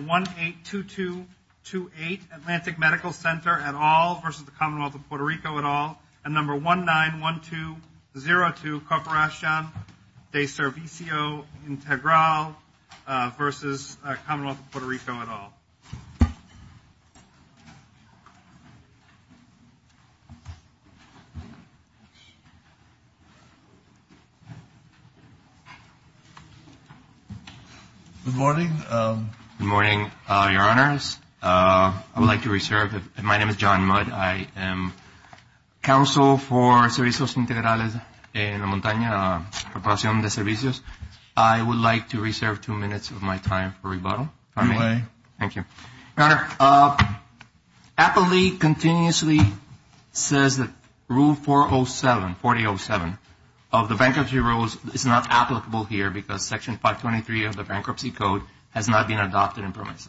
1-822-28 Atlantic Medical Center, et al. v. Commonwealth of Puerto Rico, et al. 1-912-02 Corporacion de Servicio Integral v. Commonwealth of Puerto Rico, et al. Good morning. Good morning, Your Honors. I would like to reserve, my name is John Mudd. I am Counsel for Servicios Integrales en la Montaña, Corporacion de Servicios. I would like to reserve two minutes of my time for rebuttal. If I may. You may. Thank you. Your Honor, APA League continuously says that Rule 407, 4807 of the bankruptcy rules is not applicable here because Section 523 of the Bankruptcy Code has not been adopted in PROMESA.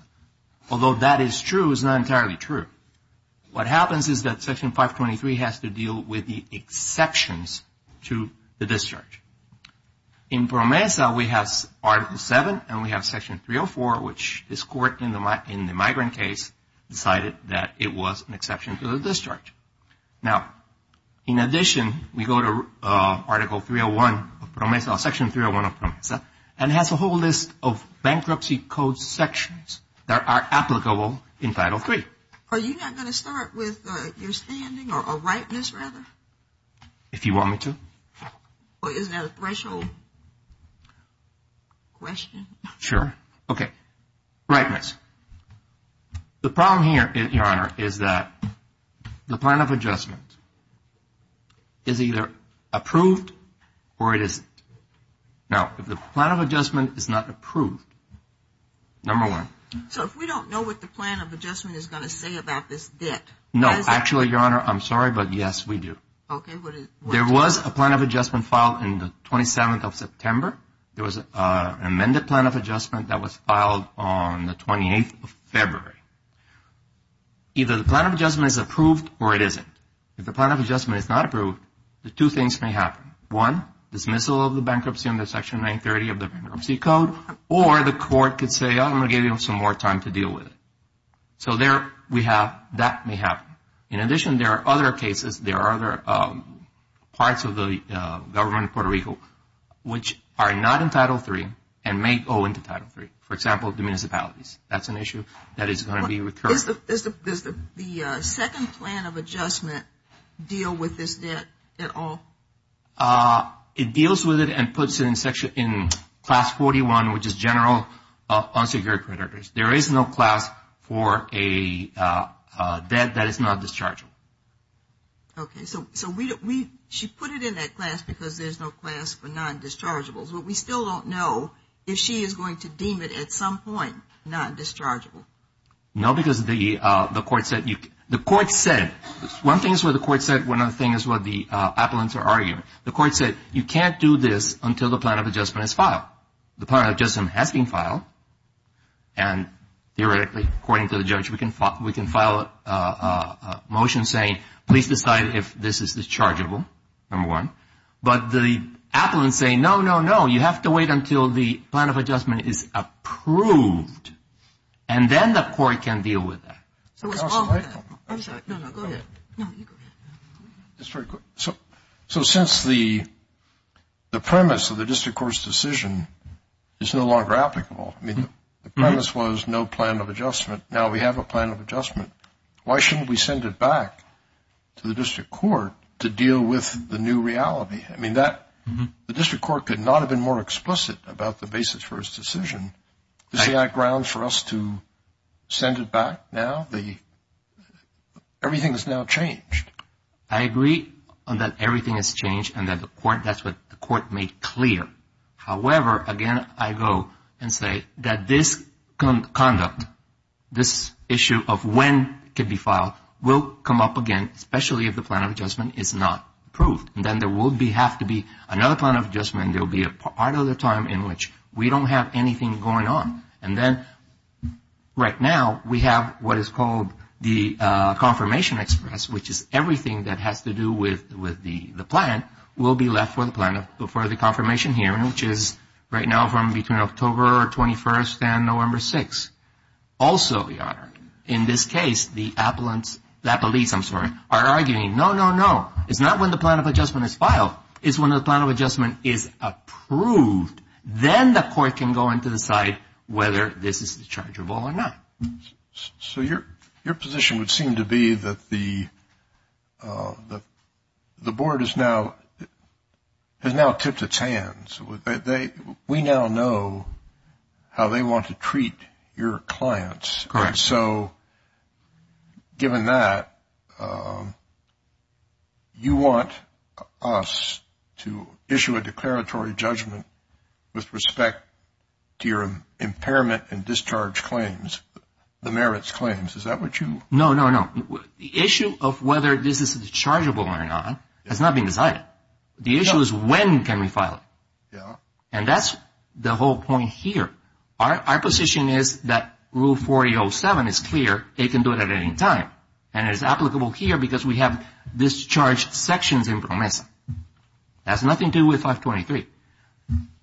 Although that is true, it's not entirely true. What happens is that Section 523 has to deal with the exceptions to the discharge. In PROMESA, we have Article 7 and we have Section 304, which this Court in the migrant case decided that it was an exception to the discharge. Now, in addition, we go to Article 301 of PROMESA, Section 301 of PROMESA, and it has a whole list of Bankruptcy Code sections that are applicable in Title III. Are you not going to start with your standing or a rightness rather? If you want me to. Isn't that a threshold question? Sure. Okay. Rightness. The problem here, Your Honor, is that the plan of adjustment is either approved or it isn't. Now, if the plan of adjustment is not approved, number one. So if we don't know what the plan of adjustment is going to say about this debt. No. Actually, Your Honor, I'm sorry, but yes, we do. Okay. There was a plan of adjustment filed on the 27th of September. There was an amended plan of adjustment that was filed on the 28th of February. Either the plan of adjustment is approved or it isn't. If the plan of adjustment is not approved, two things may happen. One, dismissal of the bankruptcy under Section 930 of the Bankruptcy Code, or the Court could say, I'm going to give you some more time to deal with it. So that may happen. In addition, there are other cases. There are other parts of the government of Puerto Rico which are not in Title III and may go into Title III. For example, the municipalities. That's an issue that is going to be recurrent. Does the second plan of adjustment deal with this debt at all? It deals with it and puts it in Class 41, which is general unsecured creditors. There is no class for a debt that is non-dischargeable. Okay. So she put it in that class because there's no class for non-dischargeables, but we still don't know if she is going to deem it at some point non-dischargeable. No, because the Court said, one thing is what the Court said, one other thing is what the appellants are arguing. The Court said, you can't do this until the plan of adjustment is filed. The plan of adjustment has been filed, and theoretically according to the judge we can file a motion saying, please decide if this is dischargeable, number one. But the appellants say, no, no, no. You have to wait until the plan of adjustment is approved, and then the Court can deal with that. I'm sorry. No, no, go ahead. No, you go ahead. That's very good. So since the premise of the District Court's decision is no longer applicable, I mean the premise was no plan of adjustment, now we have a plan of adjustment, why shouldn't we send it back to the District Court to deal with the new reality? I mean the District Court could not have been more explicit about the basis for its decision. Is there not ground for us to send it back now? Everything has now changed. I agree that everything has changed, and that's what the Court made clear. However, again, I go and say that this conduct, this issue of when it can be filed, will come up again, especially if the plan of adjustment is not approved. And then there will have to be another plan of adjustment, and there will be a part of the time in which we don't have anything going on. And then right now we have what is called the confirmation express, which is everything that has to do with the plan will be left for the confirmation hearing, which is right now from between October 21st and November 6th. Also, Your Honor, in this case, the appellees are arguing, no, no, no. It's not when the plan of adjustment is filed. It's when the plan of adjustment is approved. Then the Court can go in to decide whether this is a chargeable or not. So your position would seem to be that the Board has now tipped its hands. We now know how they want to treat your clients. Correct. And so given that, you want us to issue a declaratory judgment with respect to your impairment and discharge claims, the merits claims. Is that what you want? No, no, no. The issue of whether this is chargeable or not has not been decided. The issue is when can we file it. Yeah. And that's the whole point here. Our position is that Rule 4807 is clear. It can do it at any time. And it is applicable here because we have discharged sections in PROMESA. It has nothing to do with 523.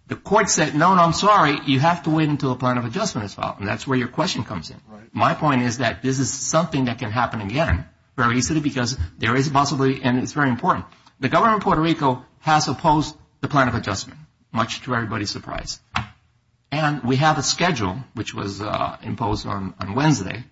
The Court said, no, no, I'm sorry. You have to wait until the plan of adjustment is filed. And that's where your question comes in. My point is that this is something that can happen again very easily because there is possibly and it's very important. The Government of Puerto Rico has opposed the plan of adjustment, much to everybody's surprise. And we have a schedule, which was imposed on Wednesday.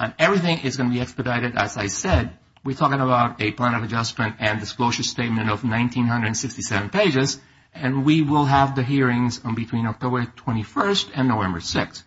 And everything is going to be expedited, as I said. We're talking about a plan of adjustment and disclosure statement of 1,967 pages. And we will have the hearings between October 21st and November 6th.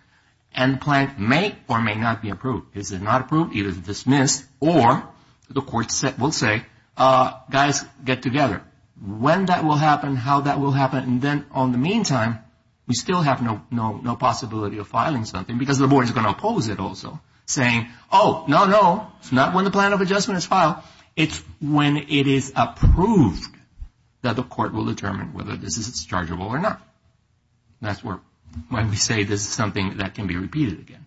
And the plan may or may not be approved. Is it not approved? It is dismissed. Or the Court will say, guys, get together. When that will happen, how that will happen. And then on the meantime, we still have no possibility of filing something because the Board is going to oppose it also, saying, oh, no, no, it's not when the plan of adjustment is filed. It's when it is approved that the Court will determine whether this is dischargeable or not. That's when we say this is something that can be repeated again.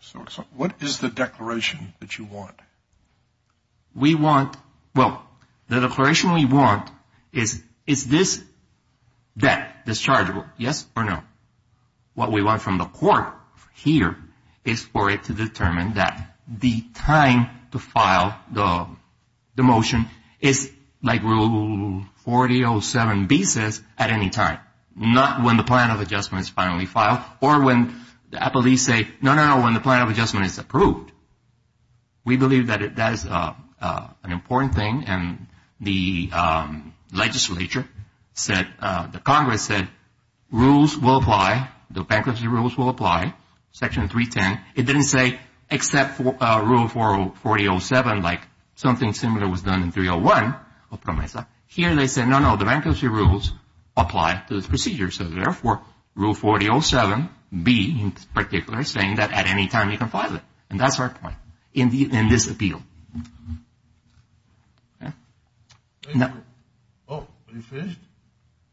So what is the declaration that you want? We want, well, the declaration we want is, is this debt dischargeable, yes or no? What we want from the Court here is for it to determine that. The time to file the motion is like Rule 4807B says, at any time. Not when the plan of adjustment is finally filed or when police say, no, no, no, when the plan of adjustment is approved. We believe that that is an important thing. And the legislature said, the Congress said, rules will apply, the bankruptcy rules will apply, Section 310. It didn't say except Rule 4807, like something similar was done in 301 of PROMESA. Here they said, no, no, the bankruptcy rules apply to this procedure. So therefore, Rule 4807B in particular is saying that at any time you can file it. And that's our point in this appeal. Oh, are you finished?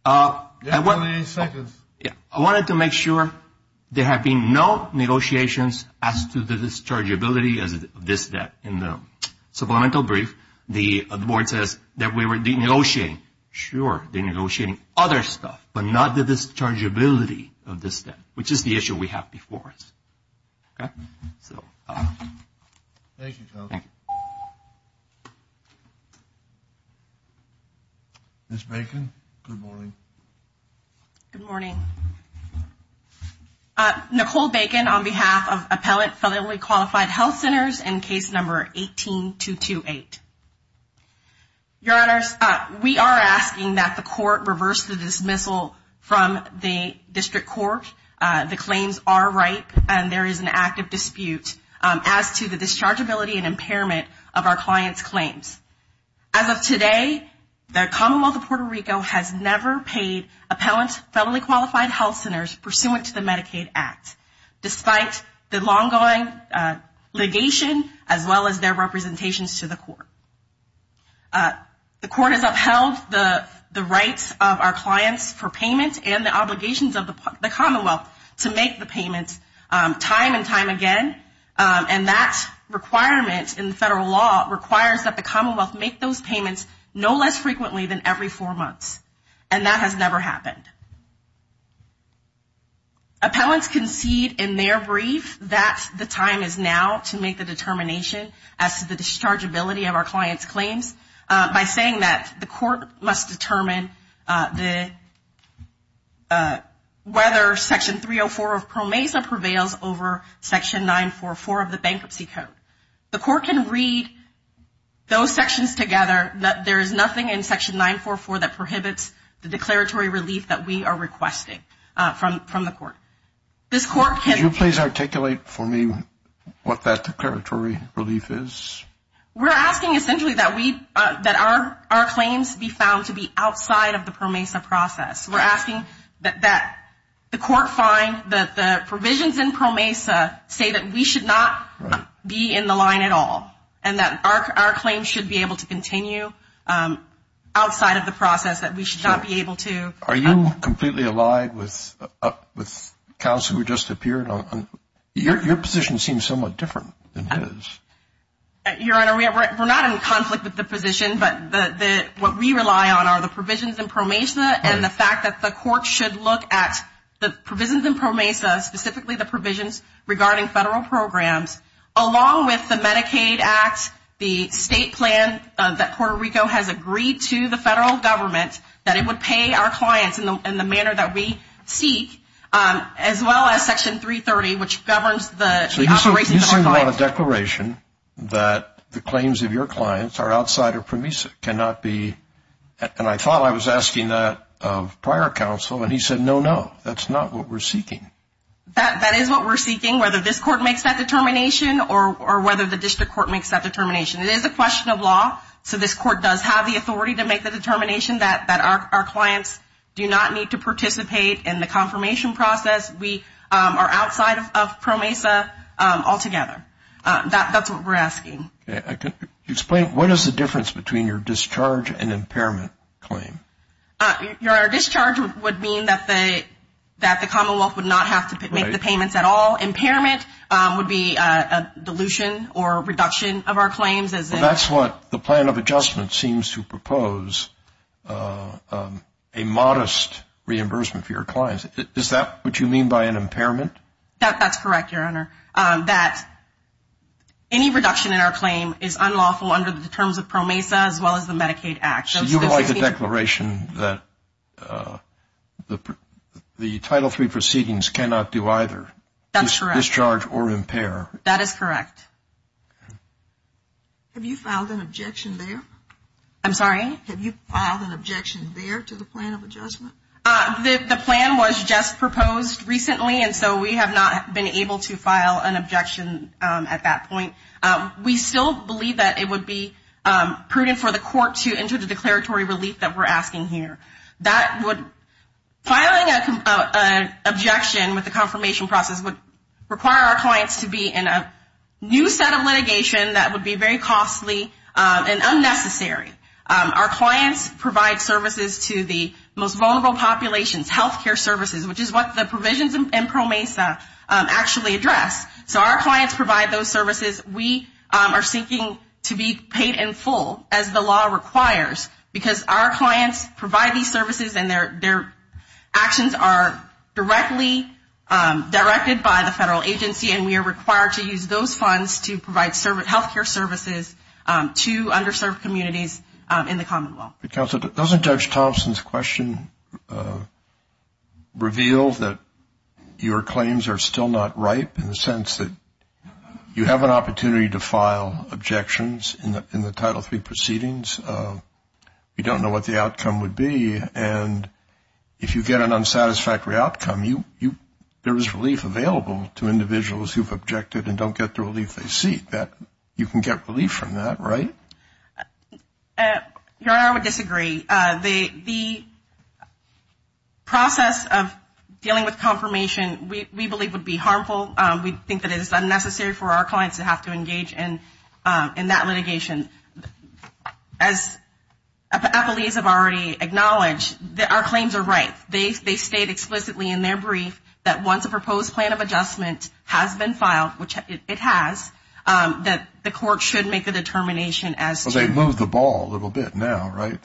You have one minute and seconds. I wanted to make sure there have been no negotiations as to the dischargeability of this debt. In the supplemental brief, the Board says that we were denegotiating. Sure, denegotiating other stuff, but not the dischargeability of this debt, which is the issue we have before us. Thank you. Ms. Bacon, good morning. Good morning. Nicole Bacon on behalf of Appellate Federally Qualified Health Centers in case number 18228. Your Honors, we are asking that the court reverse the dismissal from the district court. The claims are ripe, and there is an active dispute as to the dischargeability and impairment of our client's claims. As of today, the Commonwealth of Puerto Rico has never paid appellate federally qualified health centers pursuant to the Medicaid Act, despite the long-going litigation as well as their representations to the court. The court has upheld the rights of our clients for payment and the obligations of the Commonwealth to make the payments time and time again. And that requirement in federal law requires that the Commonwealth make those payments no less frequently than every four months. And that has never happened. Appellants concede in their brief that the time is now to make the determination as to the dischargeability of our client's claims, by saying that the court must determine whether Section 304 of PROMESA prevails over Section 944 of the Bankruptcy Code. The court can read those sections together, but there is nothing in Section 944 that prohibits the declaratory relief that we have. There is nothing that we are requesting from the court. This court can... Can you please articulate for me what that declaratory relief is? We're asking essentially that our claims be found to be outside of the PROMESA process. We're asking that the court find that the provisions in PROMESA say that we should not be in the line at all, and that our claims should be able to continue outside of the process, that we should not be able to... Are you completely aligned with counsel who just appeared? Your position seems somewhat different than his. Your Honor, we're not in conflict with the position, but what we rely on are the provisions in PROMESA, and the fact that the court should look at the provisions in PROMESA, specifically the provisions regarding federal programs, along with the Medicaid Act, the state plan that Puerto Rico has agreed to the federal government, that it would pay our clients in the manner that we seek, as well as Section 330, which governs the operations of our clients. So you're saying you want a declaration that the claims of your clients are outside of PROMESA, cannot be... And I thought I was asking that of prior counsel, and he said, no, no, that's not what we're seeking. That is what we're seeking, whether this court makes that determination, or whether the district court makes that determination. It is a question of law, so this court does have the authority to make the determination that our clients do not need to participate in the confirmation process, we are outside of PROMESA altogether. That's what we're asking. Explain, what is the difference between your discharge and impairment claim? Your discharge would mean that the commonwealth would not have to make the payments at all. Impairment would be a dilution or reduction of our claims. That's what the plan of adjustment seems to propose, a modest reimbursement for your clients. Is that what you mean by an impairment? That's correct, your honor. That any reduction in our claim is unlawful under the terms of PROMESA, as well as the Medicaid Act. So you would like a declaration that the Title III proceedings cannot do either? That's correct. Discharge or impair? That is correct. Have you filed an objection there? I'm sorry? Have you filed an objection there to the plan of adjustment? The plan was just proposed recently, and so we have not been able to file an objection at that point. We still believe that it would be prudent for the court to enter the declaratory relief that we're asking here. Filing an objection with the confirmation process would require our clients to be in a new set of litigation that would be very costly and unnecessary. Our clients provide services to the most vulnerable populations, healthcare services, which is what the provisions in PROMESA actually address. So our clients provide those services. We are seeking to be paid in full, as the law requires, because our clients provide these services and their actions are directly directed by the federal agency, and we are required to use those funds to provide healthcare services to underserved communities in the commonwealth. Counsel, doesn't Judge Thompson's question reveal that your claims are still not ripe in the sense that you have an opportunity to file objections in the Title III proceedings? We don't know what the outcome would be, and if you get an unsatisfactory outcome, there is relief available to individuals who have objected and don't get the relief they seek. You can get relief from that, right? Your Honor, I would disagree. The process of dealing with confirmation we believe would be harmful. We think that it is unnecessary for our clients to have to engage in that litigation. As appellees have already acknowledged, our claims are ripe. They state explicitly in their brief that once a proposed plan of adjustment has been filed, which it has, that the court should make a determination as to... Well, they moved the ball a little bit now, right?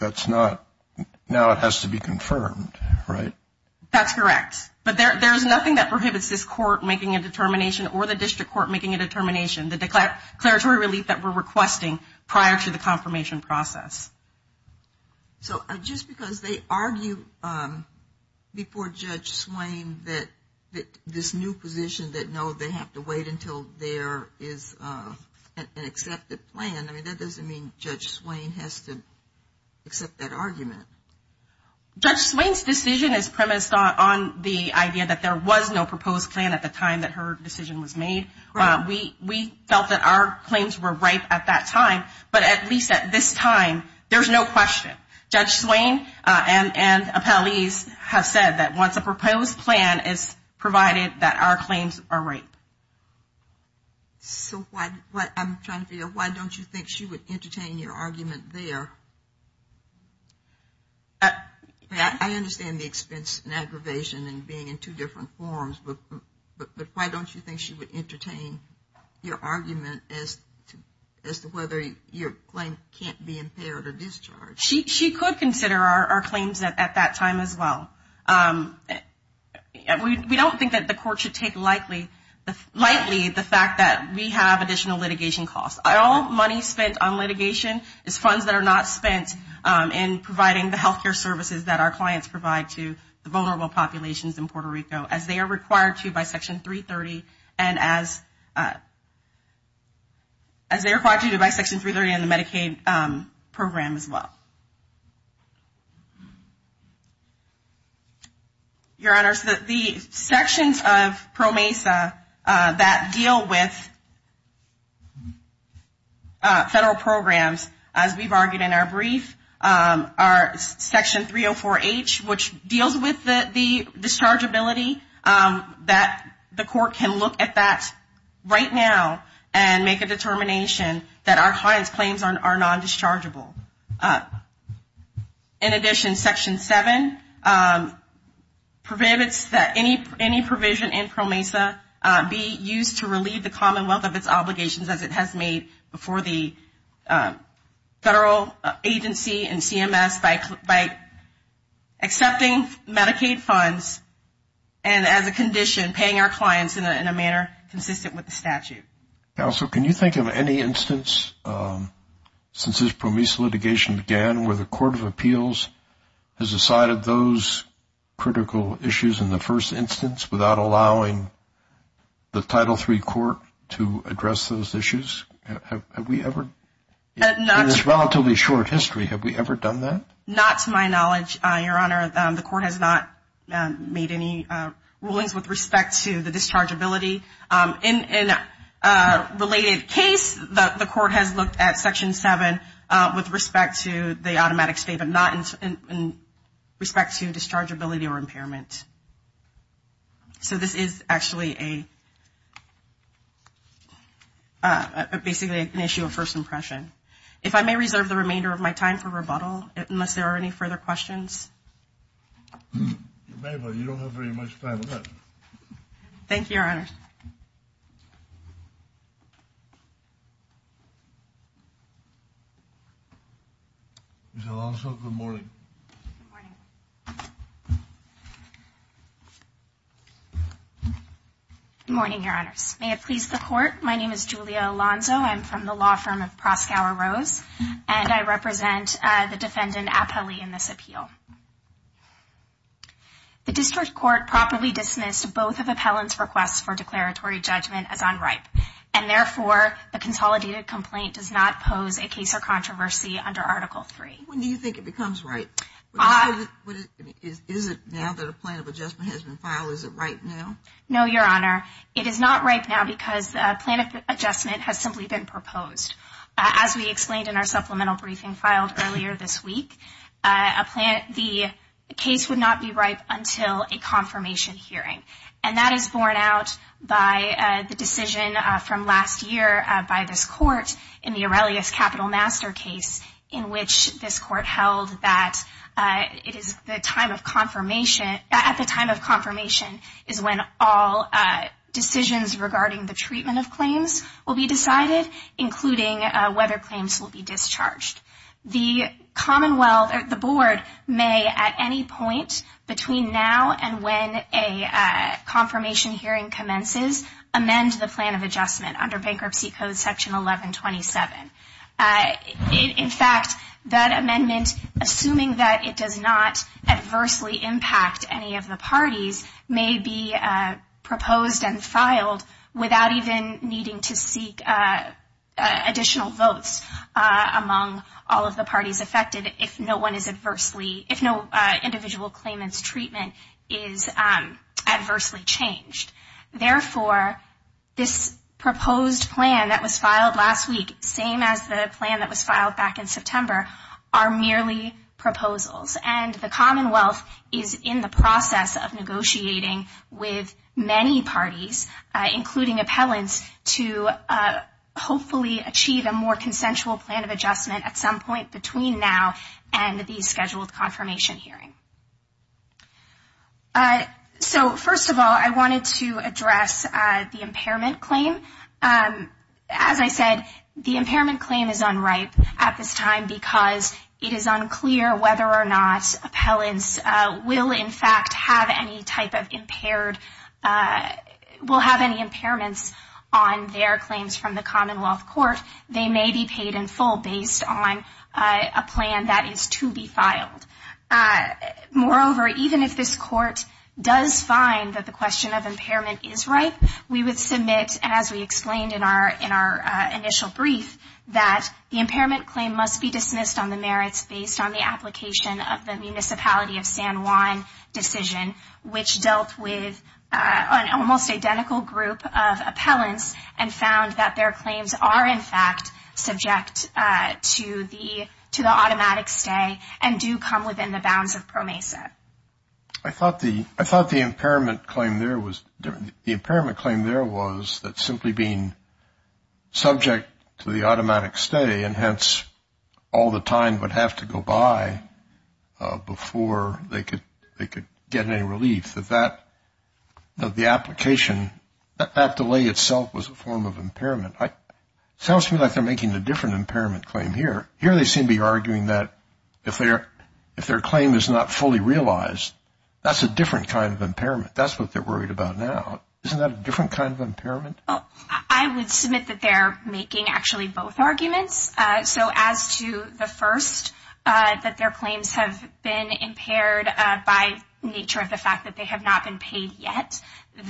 Now it has to be confirmed, right? That's correct. But there is nothing that prohibits this court making a determination or the district court making a determination, the declaratory relief that we're requesting prior to the confirmation process. So just because they argue before Judge Swain that this new position that, no, they have to wait until there is an accepted plan, I mean, that doesn't mean Judge Swain has to accept that argument. Judge Swain's decision is premised on the idea that there was no proposed plan at the time that her decision was made. We felt that our claims were ripe at that time, but at least at this time, there's no question. Judge Swain and appellees have said that once a proposed plan is provided, that our claims are ripe. So what I'm trying to figure, why don't you think she would entertain your argument there? I understand the expense and aggravation and being in two different forums, but why don't you think she would entertain your argument as to whether your claim can't be impaired or discharged? She could consider our claims at that time as well. We don't think that the court should take lightly the fact that we have additional litigation costs. All money spent on litigation is funds that are not spent in providing the health care services that our clients provide to the vulnerable populations in Puerto Rico, as they are required to by Section 330, and as they are required to by Section 330 in the Medicaid program as well. Your Honors, the sections of PRO MESA that deal with federal programs, as we've argued in our brief, are Section 304H, which deals with the dischargeability, that the court can look at that right now and make a determination that our clients' claims are non-dischargeable. In addition, Section 7 prohibits that any provision in PRO MESA be used to relieve the Commonwealth of its obligations as it has made before the federal agency and CMS by accepting Medicaid funds and as a condition, paying our clients in a manner consistent with the statute. Counsel, can you think of any instance since this PRO MESA litigation began where the Court of Appeals has decided those critical issues in the first instance without allowing the Title III Court to address those issues? Have we ever? In this relatively short history, have we ever done that? Not to my knowledge, Your Honor. The Court has not made any rulings with respect to the dischargeability. In a related case, the Court has looked at Section 7 with respect to the automatic stay, so this is actually basically an issue of first impression. If I may reserve the remainder of my time for rebuttal, unless there are any further questions. You may, but you don't have very much time left. Thank you, Your Honor. Ms. Alonzo, good morning. Good morning. Good morning, Your Honors. May it please the Court, my name is Julia Alonzo. I'm from the law firm of Proskauer Rose, and I represent the defendant, Apelli, in this appeal. The district court properly dismissed both of Appellant's requests for declaratory judgment as unripe, and therefore, the consolidated complaint does not pose a case of controversy under Article III. When do you think it becomes ripe? Is it now that a plan of adjustment has been filed? Is it ripe now? No, Your Honor. It is not ripe now because a plan of adjustment has simply been proposed. As we explained in our supplemental briefing filed earlier this week, the case would not be ripe until a confirmation hearing, and that is borne out by the decision from last year by this Court in the Aurelius Capital Master case, in which this Court held that at the time of confirmation is when all decisions regarding the treatment of claims will be decided, including whether claims will be discharged. The Board may at any point between now and when a confirmation hearing commences amend the plan of adjustment under Bankruptcy Code Section 1127. In fact, that amendment, assuming that it does not adversely impact any of the parties, may be proposed and filed without even needing to seek additional votes among all of the parties affected if no individual claimant's treatment is adversely changed. Therefore, this proposed plan that was filed last week, same as the plan that was filed back in September, are merely proposals, and the Commonwealth is in the process of negotiating with many parties, including appellants, to hopefully achieve a more consensual plan of adjustment at some point between now and the scheduled confirmation hearing. So, first of all, I wanted to address the impairment claim. As I said, the impairment claim is unripe at this time because it is unclear whether or not appellants will in fact have any type of impaired, will have any impairments on their claims from the Commonwealth Court. They may be paid in full based on a plan that is to be filed. Moreover, even if this Court does find that the question of impairment is ripe, we would submit, as we explained in our initial brief, that the impairment claim must be dismissed on the merits based on the application of the Municipality of San Juan decision, which dealt with an almost identical group of appellants and found that their claims are in fact subject to the automatic stay and do come within the bounds of PROMESA. I thought the impairment claim there was that simply being subject to the automatic stay and hence all the time would have to go by before they could get any relief, that the application, that delay itself was a form of impairment. It sounds to me like they're making a different impairment claim here. Here they seem to be arguing that if their claim is not fully realized, that's a different kind of impairment. That's what they're worried about now. Isn't that a different kind of impairment? I would submit that they're making actually both arguments. So as to the first, that their claims have been impaired by nature of the fact that they have not been paid yet,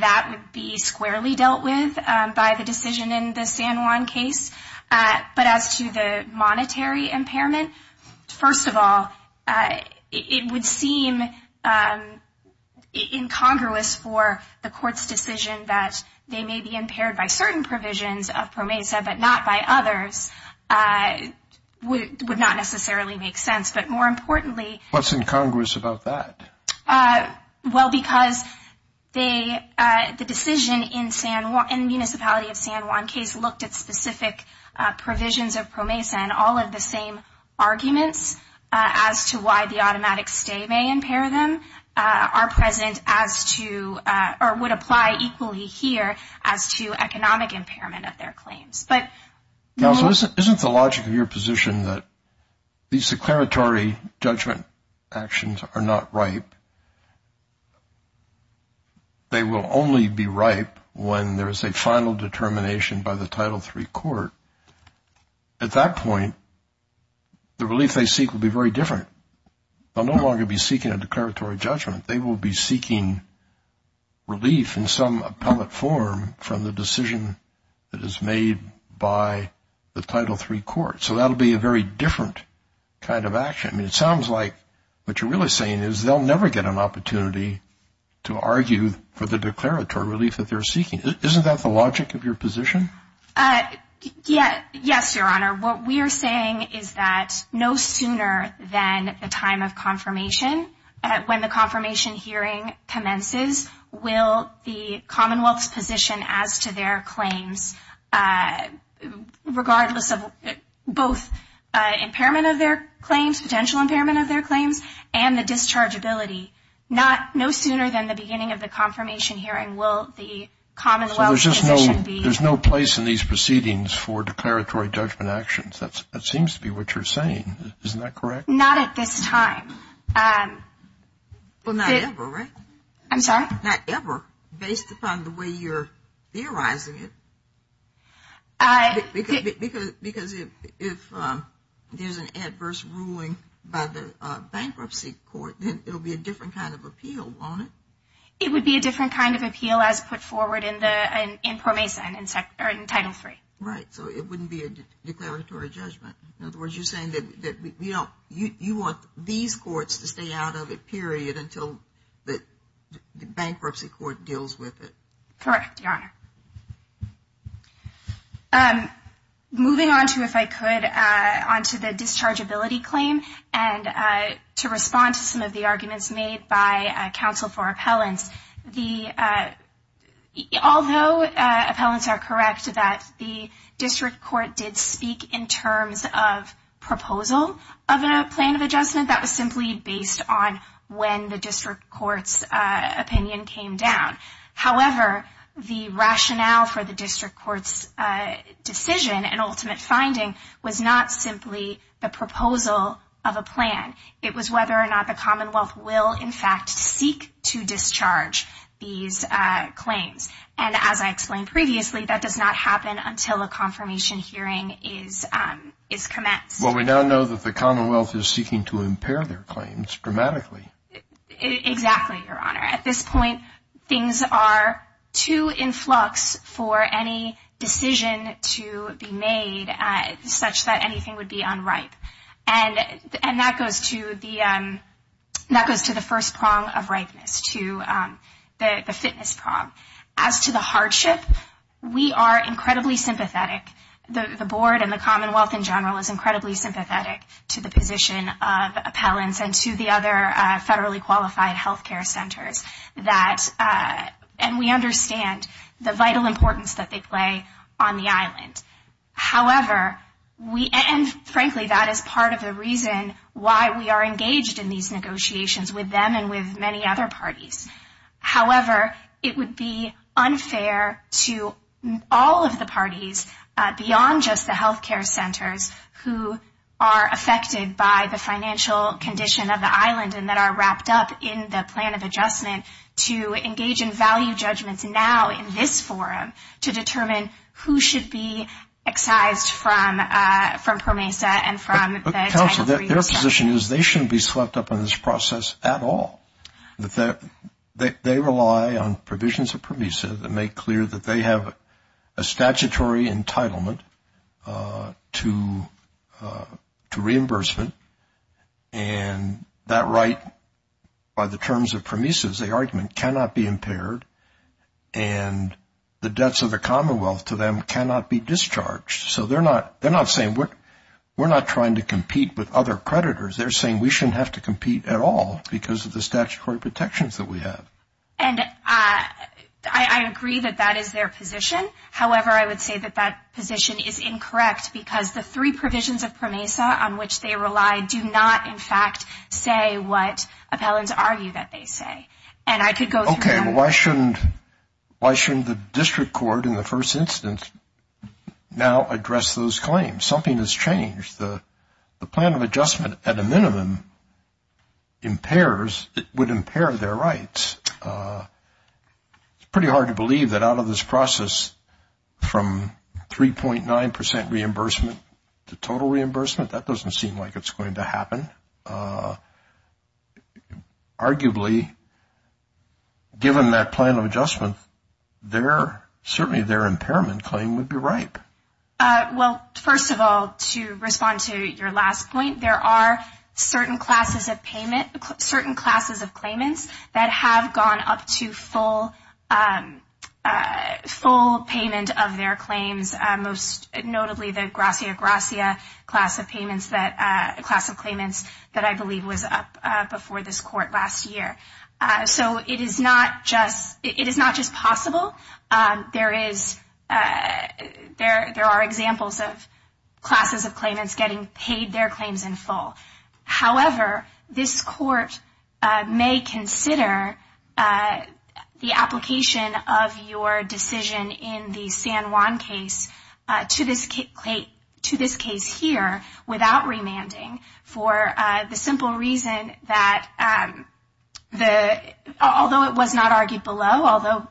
that would be squarely dealt with by the decision in the San Juan case. But as to the monetary impairment, first of all, it would seem incongruous for the court's decision that they may be impaired by certain provisions of PROMESA but not by others, would not necessarily make sense. But more importantly... What's incongruous about that? Well, because the decision in the municipality of San Juan case looked at specific provisions of PROMESA and all of the same arguments as to why the automatic stay may impair them are present as to, or would apply equally here as to economic impairment of their claims. Now, isn't the logic of your position that these declaratory judgment actions are not ripe? They will only be ripe when there is a final determination by the Title III court. At that point, the relief they seek will be very different. They'll no longer be seeking a declaratory judgment. They will be seeking relief in some appellate form from the decision that is made by the Title III court. So that will be a very different kind of action. It sounds like what you're really saying is they'll never get an opportunity to argue for the declaratory relief that they're seeking. Isn't that the logic of your position? Yes, Your Honor. What we're saying is that no sooner than the time of confirmation, when the confirmation hearing commences, will the Commonwealth's position as to their claims, regardless of both impairment of their claims, the financial impairment of their claims, and the dischargeability, no sooner than the beginning of the confirmation hearing will the Commonwealth's position be... So there's no place in these proceedings for declaratory judgment actions. That seems to be what you're saying. Isn't that correct? Not at this time. Well, not ever, right? I'm sorry? Not ever, based upon the way you're theorizing it. Because if there's an adverse ruling by the bankruptcy court, then it'll be a different kind of appeal, won't it? It would be a different kind of appeal as put forward in PROMESA and in Title III. Right, so it wouldn't be a declaratory judgment. In other words, you're saying that you want these courts to stay out of it, period, until the bankruptcy court deals with it. Correct, Your Honor. Moving on to, if I could, on to the dischargeability claim, and to respond to some of the arguments made by counsel for appellants. Although appellants are correct that the district court did speak in terms of proposal of a plan of adjustment, that was simply based on when the district court's opinion came down. However, the rationale for the district court's decision and ultimate finding was not simply the proposal of a plan. It was whether or not the Commonwealth will, in fact, seek to discharge these claims. And as I explained previously, that does not happen until a confirmation hearing is commenced. Well, we now know that the Commonwealth is seeking to impair their claims dramatically. Exactly, Your Honor. At this point, things are too in flux for any decision to be made such that anything would be unripe. And that goes to the first prong of ripeness, to the fitness prong. As to the hardship, we are incredibly sympathetic. The Board and the Commonwealth in general is incredibly sympathetic to the position of appellants and to the other federally qualified healthcare centers. And we understand the vital importance that they play on the island. However, and frankly, that is part of the reason why we are engaged in these negotiations with them and with many other parties. However, it would be unfair to all of the parties beyond just the healthcare centers who are affected by the financial condition of the island and that are wrapped up in the plan of adjustment to engage in value judgments now in this forum to determine who should be excised from PROMESA and from the title III. Counsel, their position is they shouldn't be swept up in this process at all. They rely on provisions of PROMESA that make clear that they have a statutory entitlement to reimbursement. And that right, by the terms of PROMESA's argument, cannot be impaired. And the debts of the Commonwealth to them cannot be discharged. So they're not saying we're not trying to compete with other creditors. They're saying we shouldn't have to compete at all because of the statutory protections that we have. And I agree that that is their position. However, I would say that that position is incorrect because the three provisions of PROMESA on which they rely do not, in fact, say what appellants argue that they say. And I could go through that. Okay, but why shouldn't the district court in the first instance now address those claims? Something has changed. The plan of adjustment, at a minimum, would impair their rights. It's pretty hard to believe that out of this process from 3.9 percent reimbursement to total reimbursement, that doesn't seem like it's going to happen. Arguably, given that plan of adjustment, certainly their impairment claim would be ripe. Well, first of all, to respond to your last point, there are certain classes of payment, certain classes of claimants that have gone up to full payment of their claims, notably the gracia gracia class of claimants that I believe was up before this court last year. So it is not just possible. There are examples of classes of claimants getting paid their claims in full. However, this court may consider the application of your decision in the San Juan case to this case here without remanding for the simple reason that, although it was not argued below, although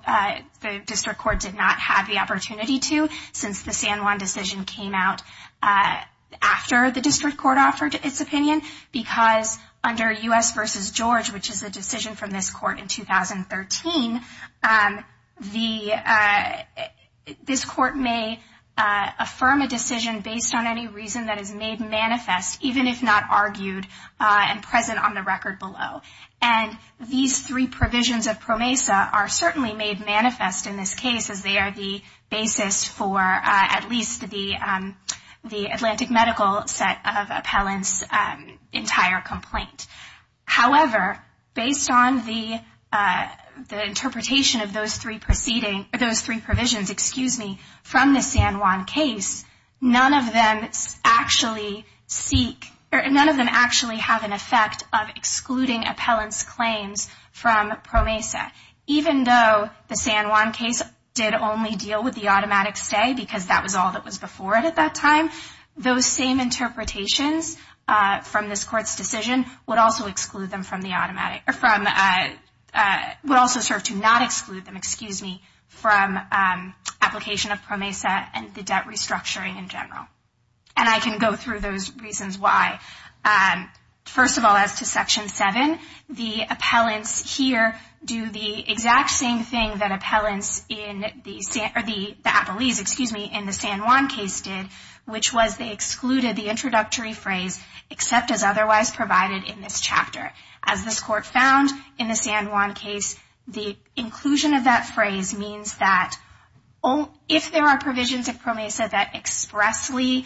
the district court did not have the opportunity to since the San Juan decision came out after the district court offered its opinion, because under U.S. v. George, which is a decision from this court in 2013, this court may affirm a decision based on any reason that is made manifest, even if not argued and present on the record below. And these three provisions of PROMESA are certainly made manifest in this case as they are the basis for at least the Atlantic Medical set of appellants' entire complaint. However, based on the interpretation of those three provisions from the San Juan case, none of them actually have an effect of excluding appellants' claims from PROMESA, even though the San Juan case did only deal with the automatic stay because that was all that was before it at that time. Those same interpretations from this court's decision would also exclude them from the automatic, would also serve to not exclude them, excuse me, from application of PROMESA and the debt restructuring in general. And I can go through those reasons why. First of all, as to Section 7, the appellants here do the exact same thing that appellants in the San Juan case did, which was they excluded the introductory phrase except as otherwise provided in this chapter. As this court found in the San Juan case, the inclusion of that phrase means that if there are provisions of PROMESA that expressly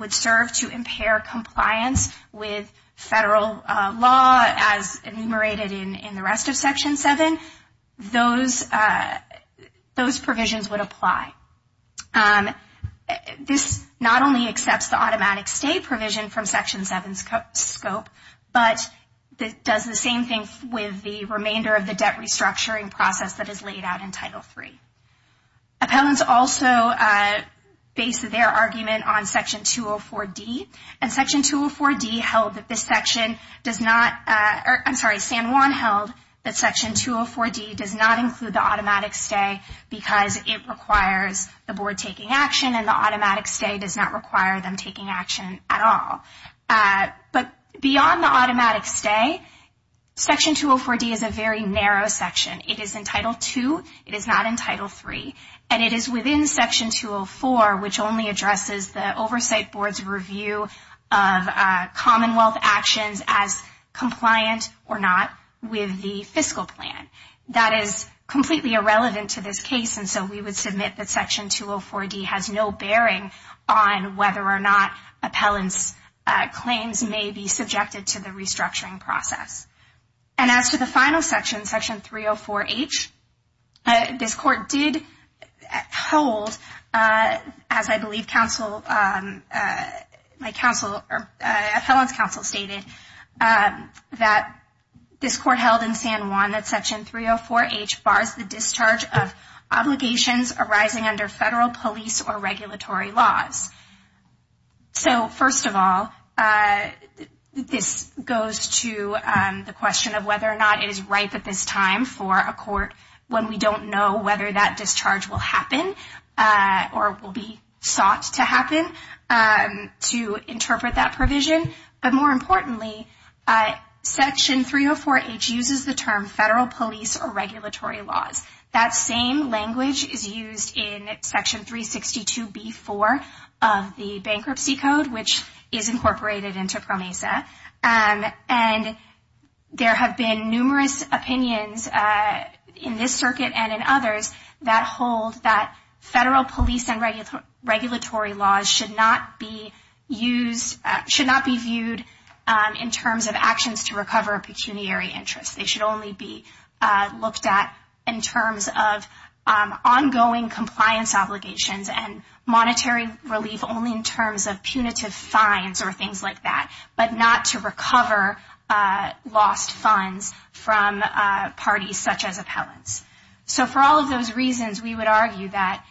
would serve to impair compliance with federal law as enumerated in the rest of Section 7, those provisions would apply. This not only accepts the automatic stay provision from Section 7's scope, but does the same thing with the remainder of the debt restructuring process that is laid out in Title 3. Appellants also base their argument on Section 204D, and Section 204D held that this section does not, I'm sorry, San Juan held that Section 204D does not include the automatic stay because it requires the board taking action and the automatic stay does not require them taking action at all. But beyond the automatic stay, Section 204D is a very narrow section. It is in Title 2. It is not in Title 3. And it is within Section 204, which only addresses the Oversight Board's review of Commonwealth actions as compliant or not with the fiscal plan. That is completely irrelevant to this case, and so we would submit that Section 204D has no bearing on whether or not appellants' claims may be subjected to the restructuring process. And as to the final section, Section 304H, this Court did hold, as I believe Council, my Council, Appellant's Council stated, that this Court held in San Juan that Section 304H bars the discharge of obligations arising under federal, police, or regulatory laws. So, first of all, this goes to the question of whether or not it is ripe at this time for a Court when we don't know whether that discharge will happen or will be sought to happen. So, I'm not going to go into how to interpret that provision. But more importantly, Section 304H uses the term federal, police, or regulatory laws. That same language is used in Section 362B-4 of the Bankruptcy Code, which is incorporated into PROMESA. And there have been numerous opinions in this Circuit and in others that hold that federal, police, and regulatory laws should not be used, should not be viewed in terms of actions to recover a pecuniary interest. They should only be looked at in terms of ongoing compliance obligations and monetary relief only in terms of punitive fines or things like that, but not to recover lost funds from parties such as appellants. So, for all of those reasons, we would argue that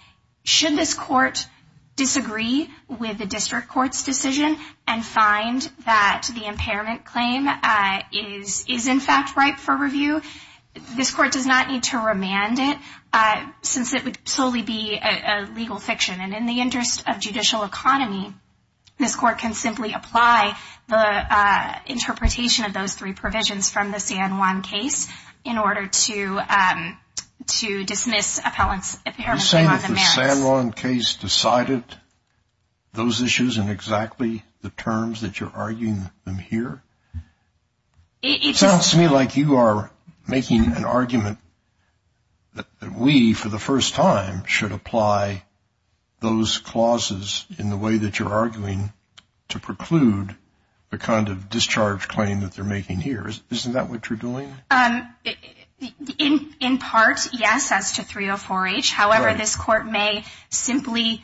should this Court disagree with the District Court's decision and find that the impairment claim is in fact ripe for review, this Court does not need to remand it since it would solely be a legal fiction. And in the interest of judicial economy, this Court can simply apply the interpretation of those three provisions from the San Juan case in order to dismiss appellants apparently on the merits. You're saying that the San Juan case decided those issues in exactly the terms that you're arguing them here? It just... It sounds to me like you are making an argument that we, for the first time, should apply those clauses in the way that you're arguing to preclude the kind of discharge claim that they're making here. Isn't that what you're doing? In part, yes, as to 304-H. However, this Court may simply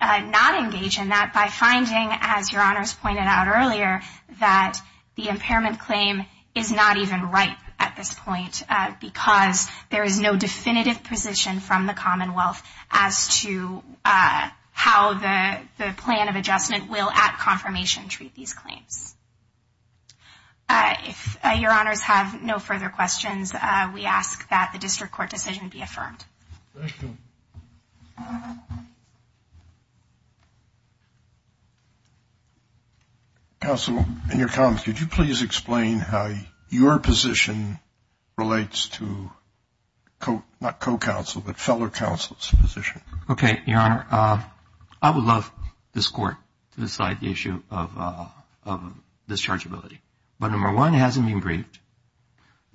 not engage in that by finding, as Your Honors pointed out earlier, that the impairment claim is not even ripe at this point because there is no definitive position from the Commonwealth as to how the plan of adjustment will at confirmation treat these claims. If Your Honors have no further questions, we ask that the District Court decision be affirmed. Thank you. Counsel, in your comments, could you please explain how your position relates to, not co-counsel, but fellow counsel's position? Okay, Your Honor. I would love this Court to decide the issue of dischargeability. But number one, it hasn't been briefed.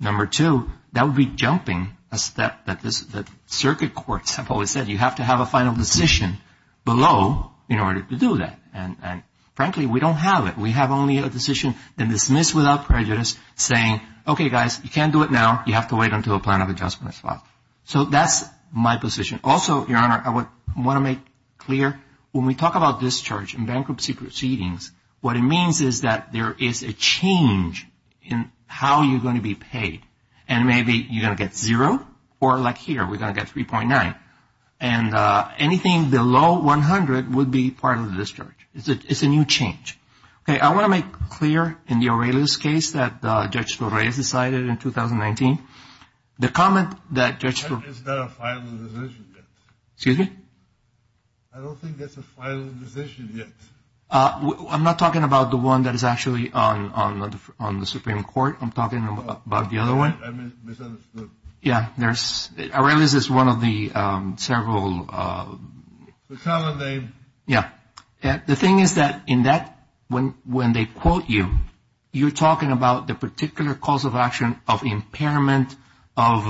Number two, that would be jumping a step that circuit courts have always said. You have to have a final decision below in order to do that. And frankly, we don't have it. We have only a decision that is dismissed without prejudice saying, okay, guys, you can't do it now. You have to wait until a plan of adjustment is filed. So that's my position. Also, Your Honor, I want to make clear that when we talk about discharge and bankruptcy proceedings, what it means is that there is a change in how you're going to be paid. And maybe you're going to get zero, or like here, we're going to get 3.9. And anything below 100 would be part of the discharge. It's a new change. Okay, I want to make clear in the Aurelius case that Judge Flores decided in 2019. The comment that Judge Flores... Is there a final decision yet? Excuse me? I don't think there's a final decision yet. I'm not talking about the one that is actually on the Supreme Court. I'm talking about the other one. I misunderstood. Yeah, Aurelius is one of the several... The common name. Yeah. The thing is that in that, when they quote you, you're talking about the particular cause of action of impairment of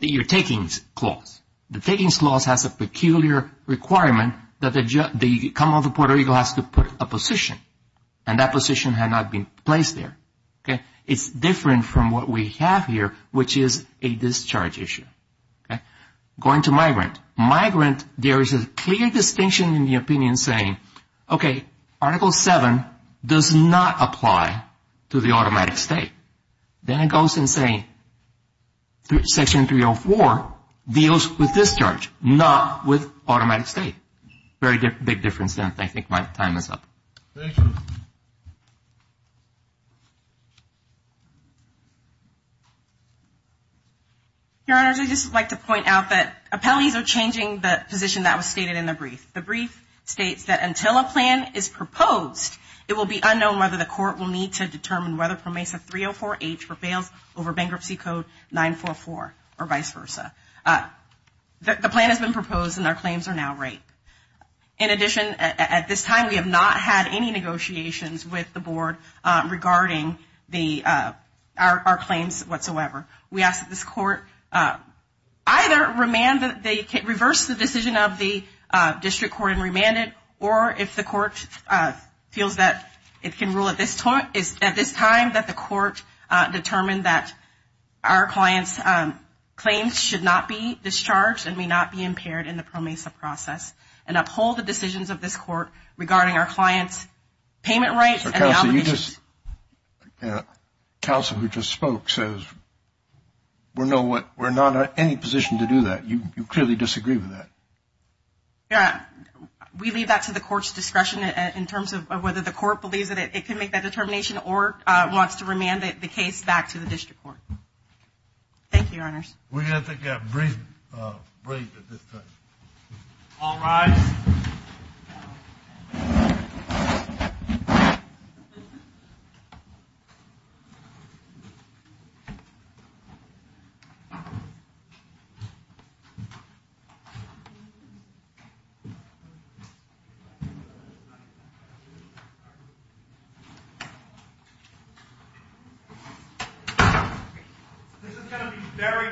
your takings clause. The takings clause has a peculiar requirement that the Commonwealth of Puerto Rico has to put a position. And that position had not been placed there. Okay? It's different from what we have here, which is a discharge issue. Okay? Going to migrant. Migrant, there is a clear distinction in the opinion saying, okay, Article 7 does not apply to the automatic state. Then it goes and say, Section 304 deals with discharge, not with automatic state. Very big difference there. I think my time is up. Thank you. Your Honors, I'd just like to point out that appellees are changing the position that was stated in the brief. The brief states that until a plan is proposed, it will be unknown whether the court will need to determine whether Pro Mesa 304H prevails over Bankruptcy Code 944 or not. The plan has been proposed and our claims are now right. In addition, at this time, we have not had any negotiations with the board regarding our claims whatsoever. We ask that this court either reverse the decision of the district court and remand it, or if the court feels that it can rule at this time that the court determine that our client's claims should not be discharged and may not be impaired in the Pro Mesa process and uphold the decisions of this court regarding our client's payment rights and obligations. Counsel, you just, counsel who just spoke says we're not in any position to do that. You clearly disagree with that. Yeah. We leave that to the court's discretion in terms of whether the court believes that it can make that determination or wants to remand the case back to the district court. Thank you, Your Honors. We're going to take a brief break at this time. All rise. This is going to be very brief.